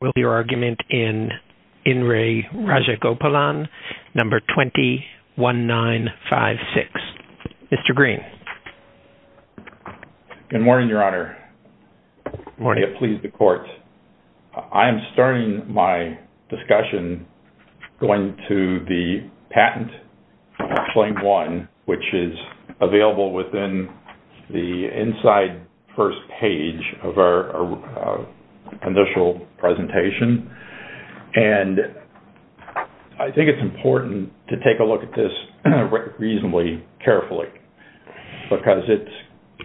will be your argument in In Re Rajagopalan, number 20-1956. Mr. Green. Good morning, Your Honor. Good morning. I get to please the Court. I am starting my discussion going to the patent, Claim 1, which is available within the inside first page of our initial presentation. And I think it's important to take a look at this reasonably carefully, because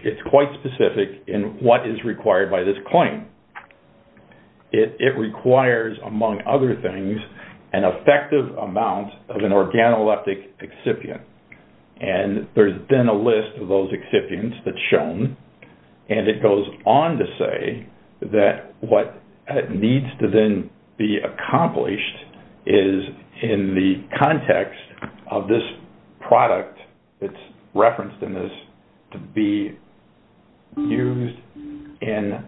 it's quite specific in what is required by this claim. It requires, among other things, an effective amount of an organoleptic excipient. And there's been a list of those excipients that's shown. And it goes on to say that what needs to then be accomplished is, in the context of this product, it's referenced in this, to be used in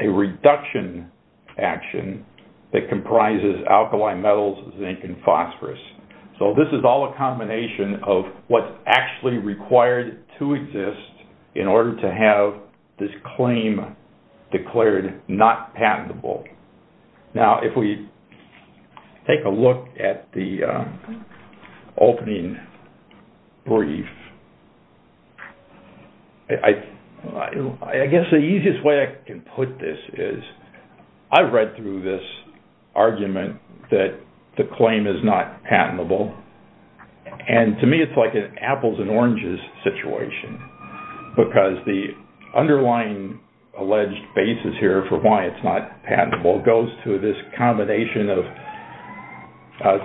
a reduction action that comprises alkali metals, zinc, and phosphorus. So this is all a combination of what's actually required to exist in order to have this claim declared not patentable. Now if we take a look at the opening brief, I guess the easiest way I can put this is, I've read through this argument that the claim is not patentable. And to me it's like an apples and oranges situation, because the underlying alleged basis here for why it's not patentable goes to this combination of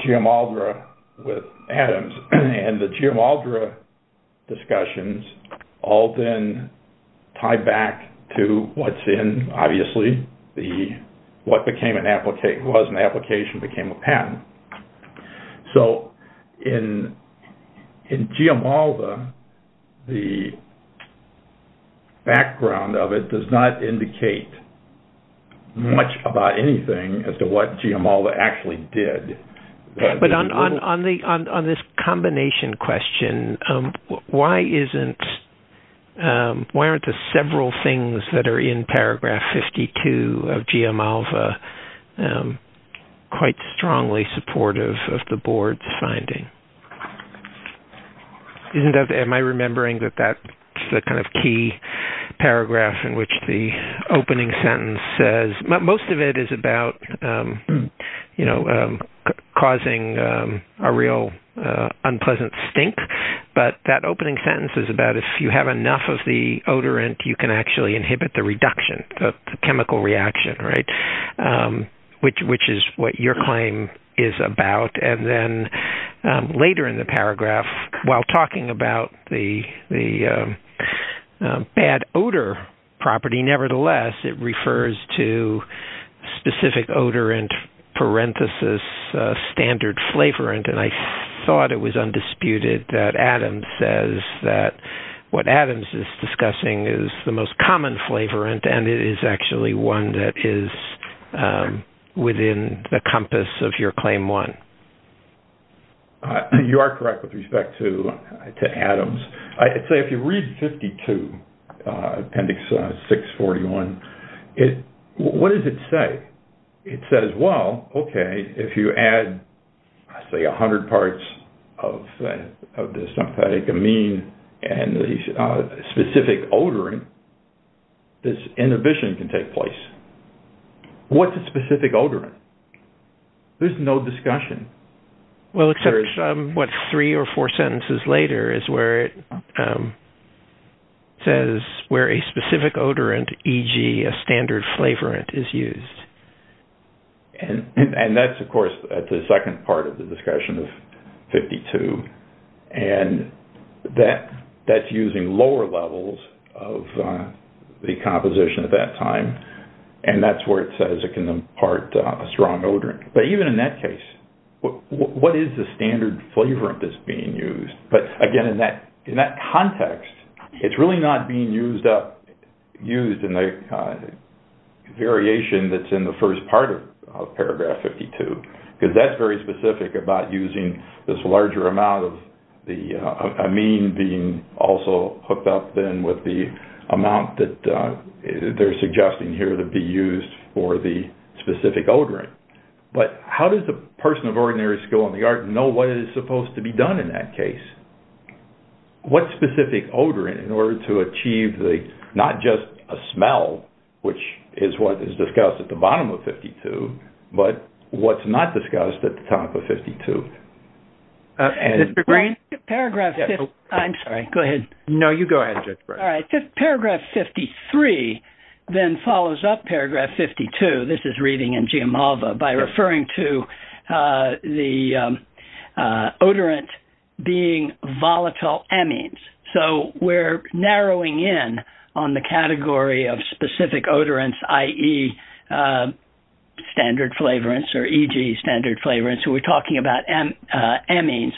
Geomaldra with atoms. And the Geomaldra discussions all then tie back to what's in, obviously, what was an application became a patent. So in Geomaldra, the background of it does not indicate much about anything as to what Geomaldra actually did. But on this combination question, why aren't the several things that are in paragraph 52 of Geomaldra quite strongly supportive of the board's finding? Am I remembering that that's the kind of key paragraph in which the opening sentence says, most of it is about causing a real unpleasant stink. But that opening sentence is about if you have enough of the odorant, you can actually inhibit the reduction, the chemical reaction, which is what your claim is about. And then later in the paragraph, while talking about the bad odor property, nevertheless, it refers to specific odorant parenthesis standard flavorant, and I thought it was undisputed that Adams says that what Adams is discussing is the most common flavorant, and it is actually one that is within the compass of your claim one. You are correct with respect to Adams. I'd say if you read 52, appendix 641, what does it say? It says, well, okay, if you add, say, 100 parts of the synthetic amine and the specific odorant, this inhibition can take place. What's a specific odorant? There's no discussion. Well, except, what, three or four sentences later is where it says where a specific odorant, e.g., a standard flavorant, is used. And that's, of course, at the second part of the discussion of 52, and that's using lower levels of the composition at that time, and that's where it says it can impart a strong odorant. But even in that case, what is the standard flavorant that's being used? But again, in that context, it's really not being used in the variation that's in the first part of paragraph 52, because that's very specific about using this larger amount of the amine being also hooked up then with the amount that they're suggesting here to be used for the specific odorant. But how does the person of ordinary skill in the art know what is supposed to be done in that case? What specific odorant in order to achieve the, not just a smell, which is what is discussed at the bottom of 52, but what's not discussed at the top of 52? And- Mr. Green? Paragraph- I'm sorry. Go ahead. No, you go ahead. All right. Paragraph 53 then follows up paragraph 52, this is reading in Giamalva, by referring to the odorant being volatile amines. So we're narrowing in on the category of specific odorants, i.e. standard flavorants or e.g. standard flavorants. So we're talking about amines.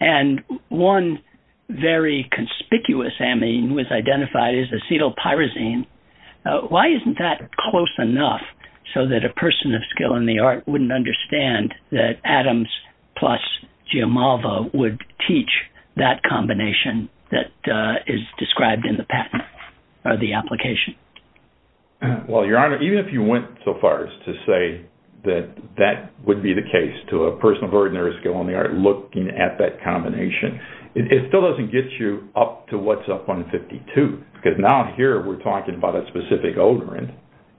And one very conspicuous amine was identified as acetyl pyrazine. Why isn't that close enough so that a person of skill in the art wouldn't understand that Adams plus Giamalva would teach that combination that is described in the patent or the application? Well, Your Honor, even if you went so far as to say that that would be the case to a combination, it still doesn't get you up to what's up on 52, because now here we're talking about a specific odorant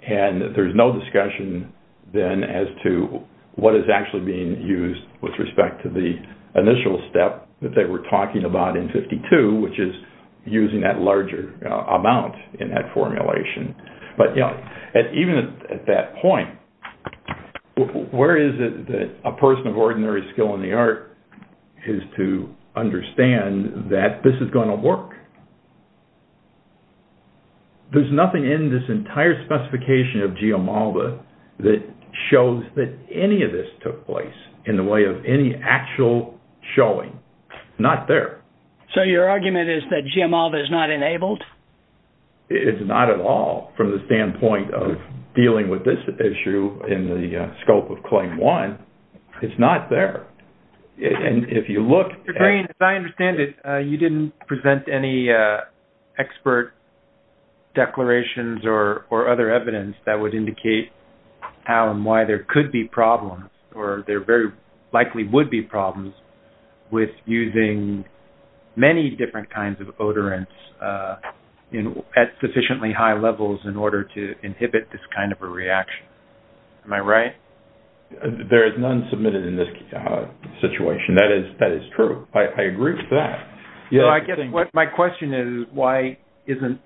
and there's no discussion then as to what is actually being used with respect to the initial step that they were talking about in 52, which is using that larger amount in that formulation. But, you know, even at that point, where is it that a person of ordinary skill in the art is to understand that this is going to work? There's nothing in this entire specification of Giamalva that shows that any of this took place in the way of any actual showing. Not there. So your argument is that Giamalva is not enabled? It's not at all from the standpoint of dealing with this issue in the scope of Claim 1. It's not there. And if you look at- Mr. Green, as I understand it, you didn't present any expert declarations or other evidence that would indicate how and why there could be problems or there very likely would be at sufficiently high levels in order to inhibit this kind of a reaction. Am I right? There is none submitted in this situation. That is true. I agree with that. You know, I guess what my question is, why isn't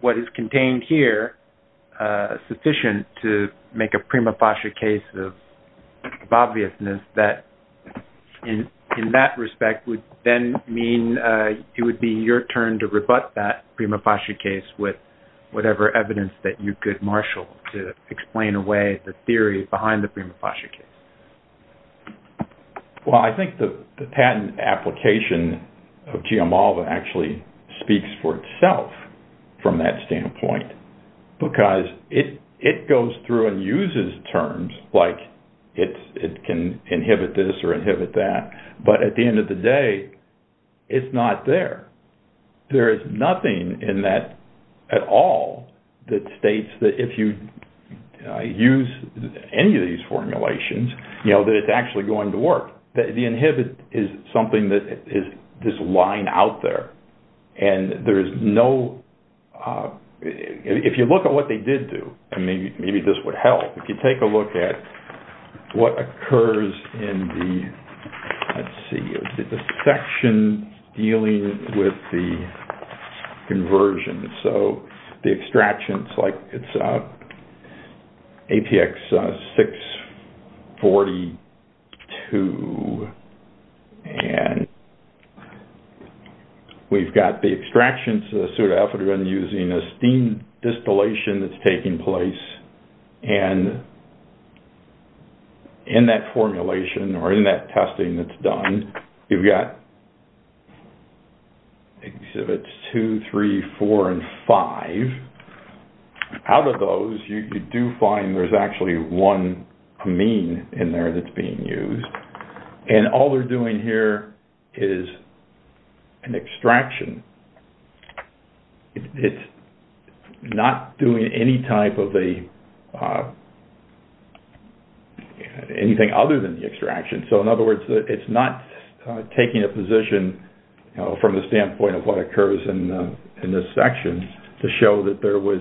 what is contained here sufficient to make a prima facie case of obviousness that in that respect would then mean it would be your turn to rebut that prima facie case with whatever evidence that you could marshal to explain away the theory behind the prima facie case? Well, I think the patent application of Giamalva actually speaks for itself from that standpoint, because it goes through and uses terms like it can inhibit this or inhibit that. But at the end of the day, it's not there. There is nothing in that at all that states that if you use any of these formulations, you know, that it's actually going to work. The inhibit is something that is just lying out there. And there is no-if you look at what they did do, and maybe this would help, if you take a look at what occurs in the-let's see-the section dealing with the conversion. So the extractions, like it's APX 642, and we've got the extractions of the pseudo-alpha using a steam distillation that's taking place. And in that formulation, or in that testing that's done, you've got exhibits two, three, four, and five. Out of those, you do find there's actually one amine in there that's being used. It's not doing any type of a-anything other than the extraction. So in other words, it's not taking a position from the standpoint of what occurs in this section to show that there was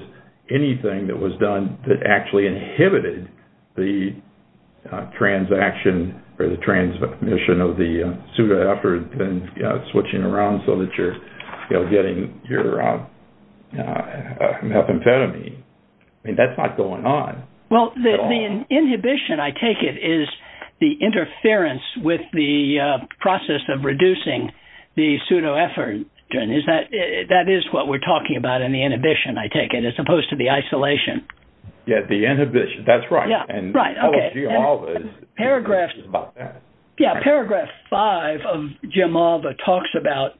anything that was done that actually inhibited the transaction or the transmission of the pseudo-alpha and switching around so that you're, you know, getting your methamphetamine. I mean, that's not going on. Well, the inhibition, I take it, is the interference with the process of reducing the pseudo-alpha. Is that-that is what we're talking about in the inhibition, I take it, as opposed to the isolation. Yeah, the inhibition. That's right. Yeah, right. Okay. Paragraph- It's about that. Yeah, paragraph five of Gemalva talks about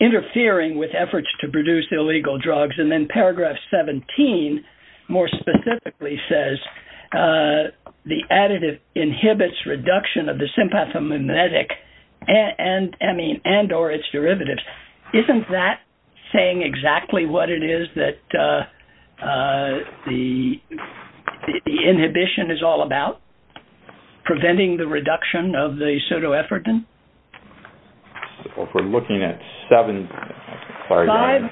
interfering with efforts to produce illegal drugs, and then paragraph 17 more specifically says the additive inhibits reduction of the sympathomimetic and-I mean, and or its derivatives. Isn't that saying exactly what it is that the inhibition is all about? Preventing the reduction of the pseudoephedrine? We're looking at seven- Five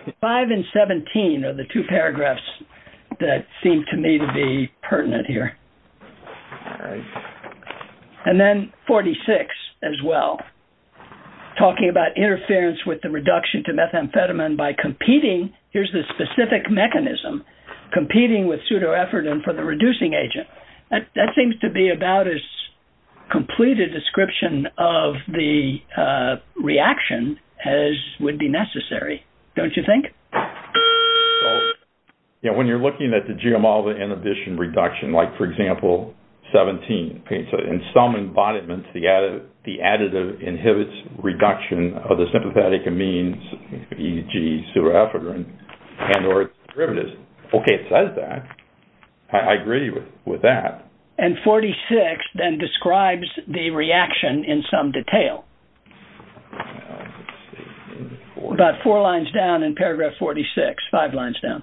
and 17 are the two paragraphs that seem to me to be pertinent here. All right. And then 46 as well, talking about interference with the reduction to methamphetamine by competing-here's the specific mechanism-competing with pseudoephedrine for the reducing agent. That seems to be about as complete a description of the reaction as would be necessary, don't you think? So, yeah, when you're looking at the Gemalva inhibition reduction, like, for example, 17, okay, so in some embodiments, the additive inhibits reduction of the sympathetic amines, e.g., pseudoephedrine, and or its derivatives. Okay, it says that. I agree with that. And 46 then describes the reaction in some detail. About four lines down in paragraph 46, five lines down.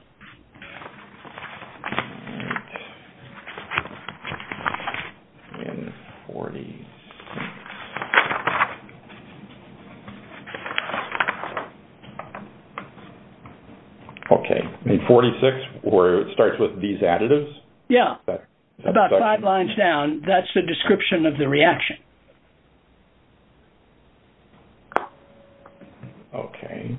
In 46. Okay, in 46 where it starts with these additives? Yeah, about five lines down. That's the description of the reaction. Okay.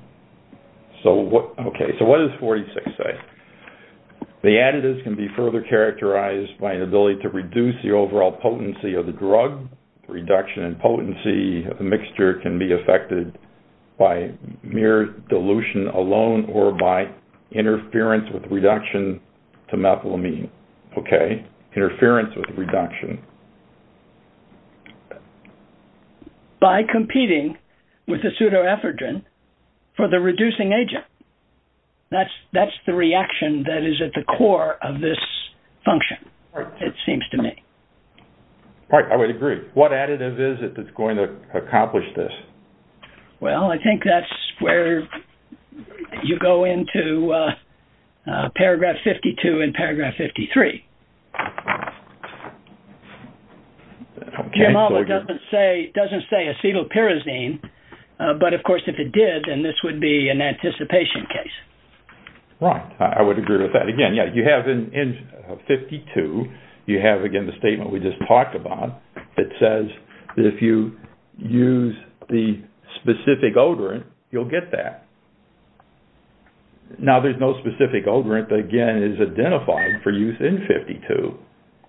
So what-okay, so what does 46 say? The additives can be further characterized by an ability to reduce the overall potency of the drug. Reduction in potency of the mixture can be affected by mere dilution alone or by interference with reduction to methamphetamine. Okay, interference with reduction. By competing with the pseudoephedrine for the reducing agent. That's the reaction that is at the core of this function, it seems to me. All right, I would agree. What additive is it that's going to accomplish this? Well, I think that's where you go into paragraph 52 and paragraph 53. Jamal doesn't say acetylpyrazine, but of course, if it did, then this would be an anticipation case. Right, I would agree with that. Again, yeah, you have in 52, you have, again, the statement we just talked about that says that if you use the specific odorant, you'll get that. Now, there's no specific odorant that, again, is identified for use in 52.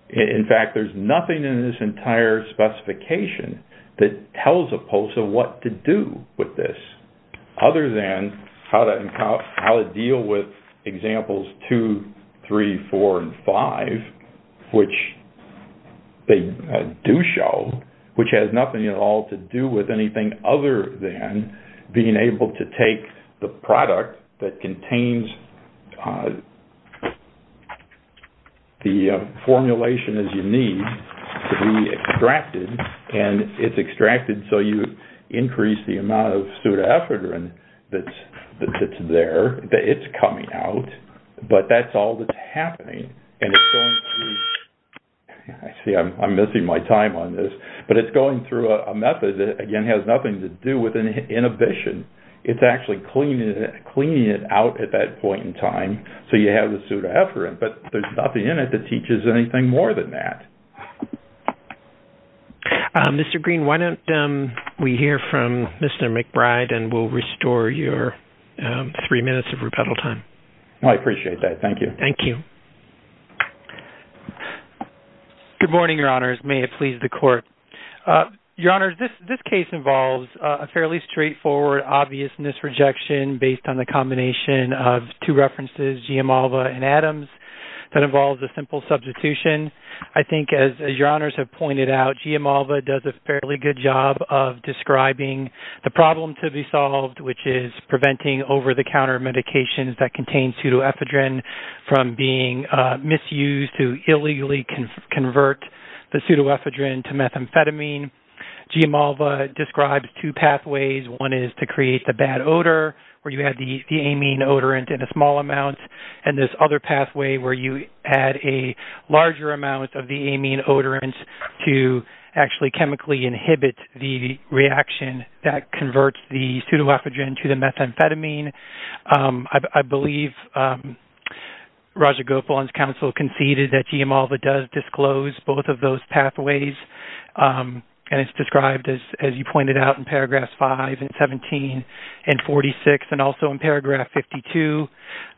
In fact, there's nothing in this entire specification that tells a POSA what to do with this, other than how to deal with examples two, three, four, and five, which they do show, which has nothing at all to do with anything other than being able to take the product that contains the formulation as you need to be extracted, and it's pseudoephedrine that's there, that it's coming out, but that's all that's happening. And it's going through, I see I'm missing my time on this, but it's going through a method that, again, has nothing to do with inhibition. It's actually cleaning it out at that point in time, so you have the pseudoephedrine, but there's nothing in it that teaches anything more than that. Mr. Green, why don't we hear from Mr. McBride, and we'll restore your three minutes of rebuttal time. I appreciate that. Thank you. Thank you. Good morning, Your Honors. May it please the Court. Your Honors, this case involves a fairly straightforward obviousness rejection based on the combination of two references, G.M. Alva and Adams, that involves a simple substitution. I think, as Your Honors have pointed out, G.M. Alva does a fairly good job of describing the problem to be solved, which is preventing over-the-counter medications that contain pseudoephedrine from being misused to illegally convert the pseudoephedrine to methamphetamine. G.M. Alva describes two pathways. One is to create the bad odor, where you add the amine odorant in a small amount, and this other pathway, where you add a larger amount of the amine odorant to actually chemically inhibit the reaction that converts the pseudoephedrine to the methamphetamine. I believe Roger Gopalan's counsel conceded that G.M. Alva does disclose both of those pathways, and it's described, as you pointed out, in paragraphs 5 and 17 and 46, and also in paragraph 52.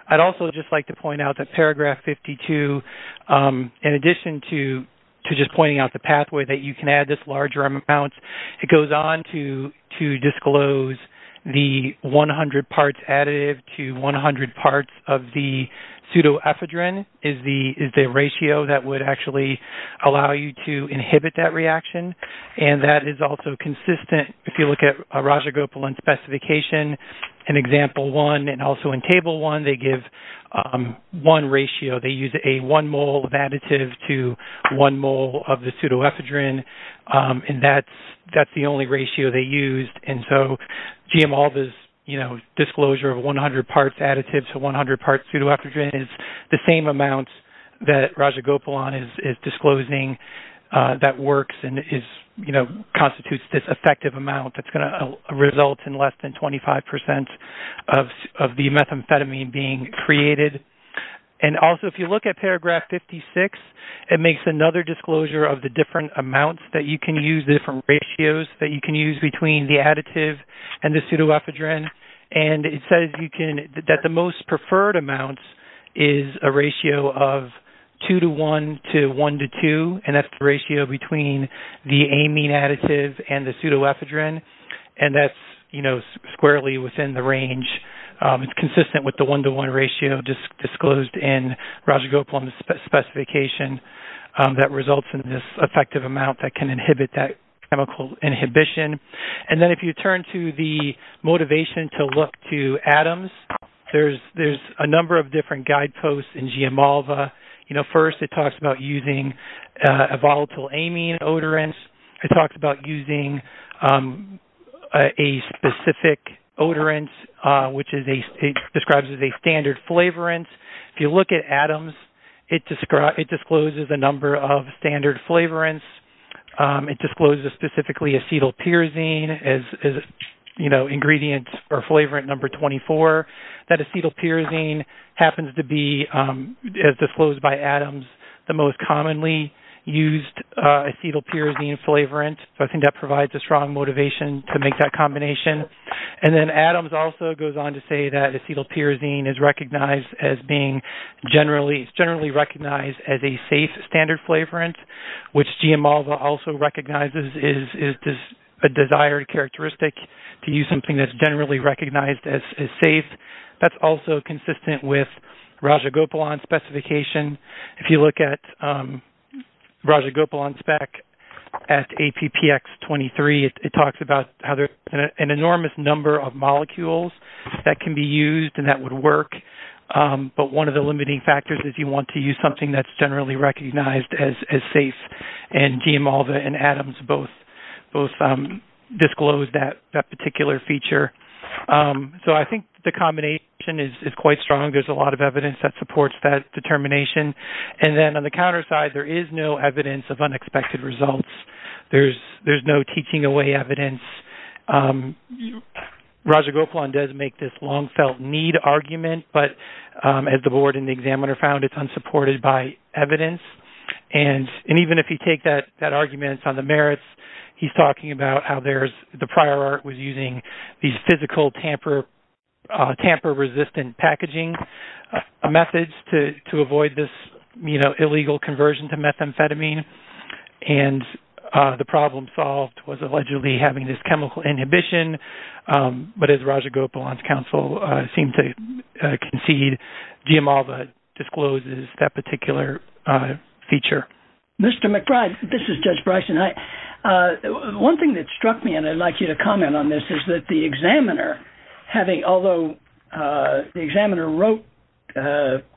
I'd also just like to point out that paragraph 52, in addition to just pointing out the pathway that you can add this larger amount, it goes on to disclose the 100 parts additive to 100 parts of the pseudoephedrine is the ratio that would actually allow you to inhibit that reaction, and that is also consistent, if you look at Roger Gopalan's specification in example 1 and also in table 1, they give one ratio. They use a one mole additive to one mole of the pseudoephedrine, and that's the only ratio they used. And so, G.M. Alva's disclosure of 100 parts additive to 100 parts pseudoephedrine is the same amount that Roger Gopalan is disclosing that works and constitutes this effective amount that's results in less than 25% of the methamphetamine being created. And also, if you look at paragraph 56, it makes another disclosure of the different amounts that you can use, the different ratios that you can use between the additive and the pseudoephedrine, and it says that the most preferred amount is a ratio of 2 to 1 to 1 to 2, and that's the ratio between the amine additive and the pseudoephedrine. And that's, you know, squarely within the range. It's consistent with the 1 to 1 ratio disclosed in Roger Gopalan's specification that results in this effective amount that can inhibit that chemical inhibition. And then, if you turn to the motivation to look to atoms, there's a number of different guideposts in G.M. Alva. You know, first, it talks about using a volatile amine odorant. It talks about using a specific odorant, which it describes as a standard flavorant. If you look at atoms, it discloses a number of standard flavorants. It discloses specifically acetylpyrazine as, you know, ingredient or flavorant number 24. That acetylpyrazine happens to be, as disclosed by Adams, the most commonly used acetylpyrazine flavorant. So, I think that provides a strong motivation to make that combination. And then, Adams also goes on to say that acetylpyrazine is recognized as being generally recognized as a safe standard flavorant, which G.M. Alva also recognizes is a desired characteristic to use something that's generally recognized as safe. That's also consistent with Roger Gopalan's specification. If you look at Roger Gopalan's spec at APPX23, it talks about how there's an enormous number of molecules that can be used and that would work, but one of the limiting factors is you want to use something that's generally recognized as safe. And G.M. Alva and Adams both disclose that particular feature. So, I think the combination is quite strong. There's a lot of evidence that supports that determination. And then, on the counter side, there is no evidence of unexpected results. There's no teaching away evidence. Roger Gopalan does make this long-felt need argument, but as the board and the examiner found, it's unsupported by evidence. And even if you take that argument on the merits, he's talking about how the prior was using these physical tamper-resistant packaging methods to avoid this, you know, illegal conversion to methamphetamine. And the problem solved was allegedly having this chemical inhibition. But as Roger Gopalan's counsel seemed to concede, G.M. Alva discloses that particular feature. Mr. McBride, this is Judge Bryson. One thing that struck me, and I'd like you to comment on this, is that the examiner, having—although the examiner wrote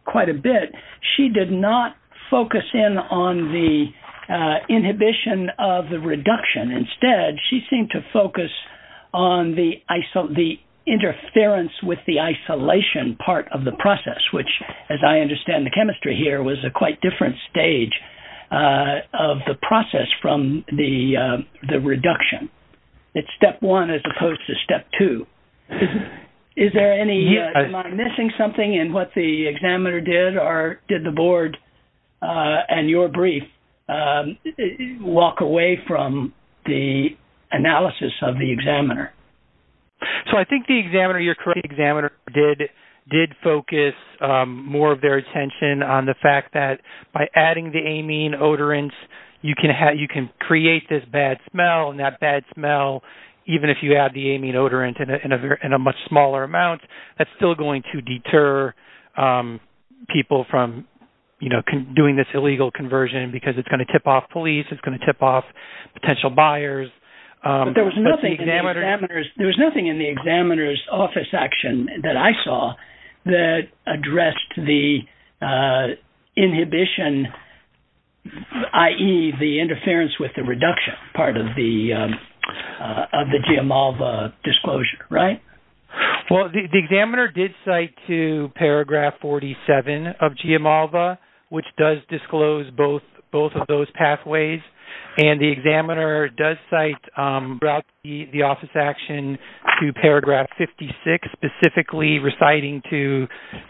quite a bit, she did not focus in on the inhibition of the reduction. Instead, she seemed to focus on the interference with the isolation part of the process, which, as I understand the chemistry here, was a quite different stage of the process from the reduction. It's step one as opposed to step two. Is there any—am I missing something in what the examiner did, or did the board and your brief walk away from the analysis of the examiner? So, I think the examiner, you're correct, the examiner did focus more of their attention on the fact that by adding the amine odorants, you can create this bad smell. And that bad smell, even if you add the amine odorant in a much smaller amount, that's still going to deter people from, you know, doing this illegal conversion because it's going to tip off police. It's going to tip off potential buyers. There was nothing in the examiner's—there was nothing in the examiner's office action that I saw that addressed the inhibition, i.e., the interference with the reduction part of the GMALVA disclosure, right? Well, the examiner did cite to paragraph 47 of GMALVA, which does disclose both of those So, the examiner did cite the office action to paragraph 56, specifically reciting to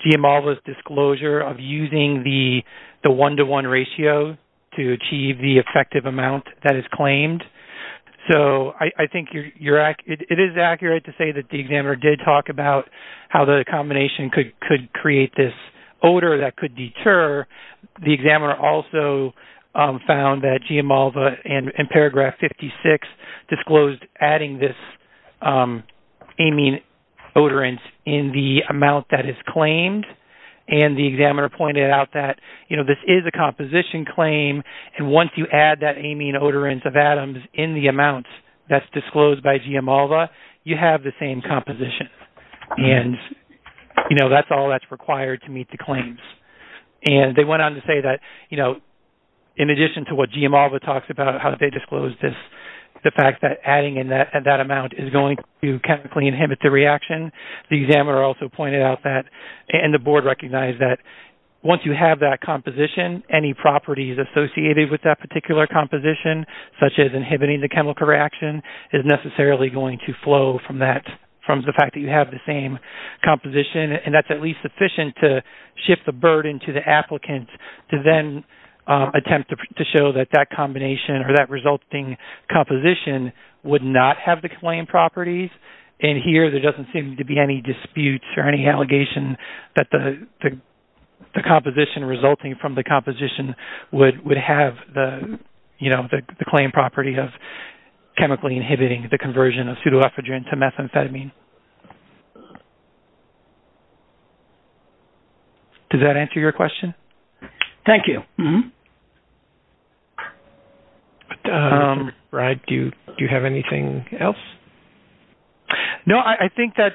GMALVA's disclosure of using the one-to-one ratio to achieve the effective amount that is claimed. So, I think you're—it is accurate to say that the examiner did talk about how the combination could create this odor that could deter. The examiner also found that GMALVA in paragraph 56 disclosed adding this amine odorant in the amount that is claimed. And the examiner pointed out that, you know, this is a composition claim. And once you add that amine odorant of atoms in the amount that's disclosed by GMALVA, you have the same composition. And, you know, that's all that's required to meet the claims. And they went on to say that, you know, in addition to what GMALVA talks about how they disclose this, the fact that adding in that amount is going to chemically inhibit the reaction, the examiner also pointed out that, and the board recognized that, once you have that composition, any properties associated with that particular composition, such as inhibiting the chemical reaction, is necessarily going to flow from that—from the fact that you have the same composition. And that's at least sufficient to shift the burden to the applicant to then attempt to show that that combination or that resulting composition would not have the claim properties. And here, there doesn't seem to be any disputes or any allegation that the composition resulting from the composition would have the, you know, the claim property of chemically inhibiting the conversion of pseudoephedrine to methamphetamine. Does that answer your question? Thank you. Mm-hmm. Brad, do you have anything else? No, I think that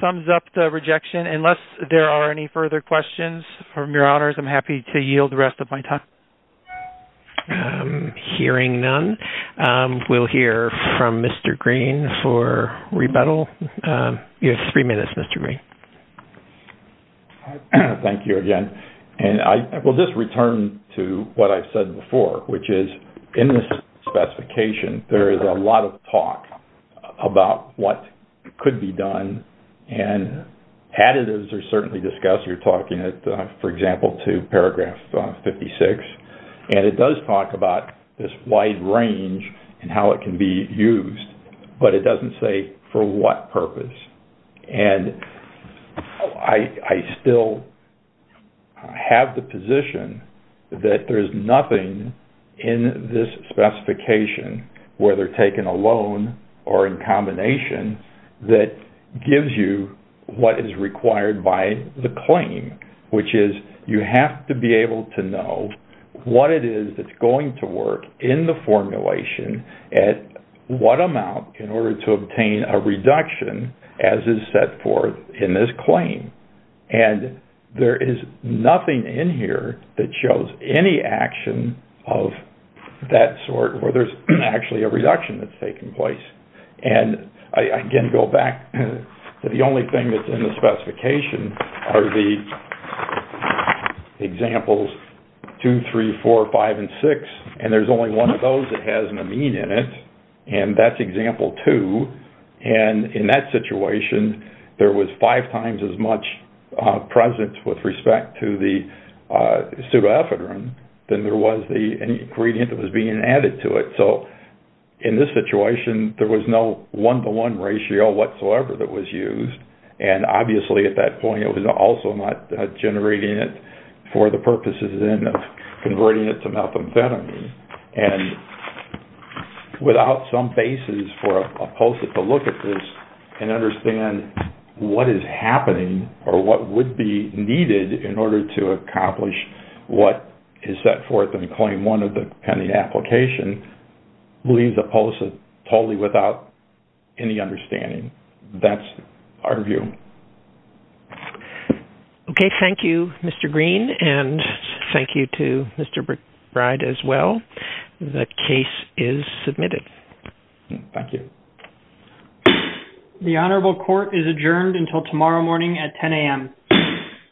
sums up the rejection. Unless there are any further questions from your honors, I'm happy to yield the rest of my time. Hearing none, we'll hear from Mr. Green for rebuttal. You have three minutes, Mr. Green. All right. Thank you again. And I will just return to what I've said before, which is, in this specification, there is a lot of talk about what could be done, and additives are certainly discussed. You're talking, for example, to paragraph 56. And it does talk about this wide range and how it can be used, but it doesn't say for what purpose. And I still have the position that there is nothing in this specification, whether taken alone or in combination, that gives you what is required by the claim, which is, you have to be able to know what it is that's going to work in the formulation at what amount in order to obtain a reduction as is set forth in this claim. And there is nothing in here that shows any action of that sort where there's actually a reduction that's taking place. And I again go back to the only thing that's in the specification are the examples 2, 3, 4, 5, and 6. And there's only one of those that has an amine in it. And that's example 2. And in that situation, there was five times as much presence with respect to the subafedrin than there was the ingredient that was being added to it. So in this situation, there was no one-to-one ratio whatsoever that was used. And obviously, at that point, it was also not generating it for the purposes, then, of converting it to methamphetamine. And without some basis for a PULSA to look at this and understand what is happening or what would be needed in order to accomplish what is set forth in Claim 1 of the pending application, we leave the PULSA totally without any understanding. That's our view. Okay. Thank you, Mr. Green. And thank you to Mr. Bride as well. The case is submitted. Thank you. The Honorable Court is adjourned until tomorrow morning at 10 a.m.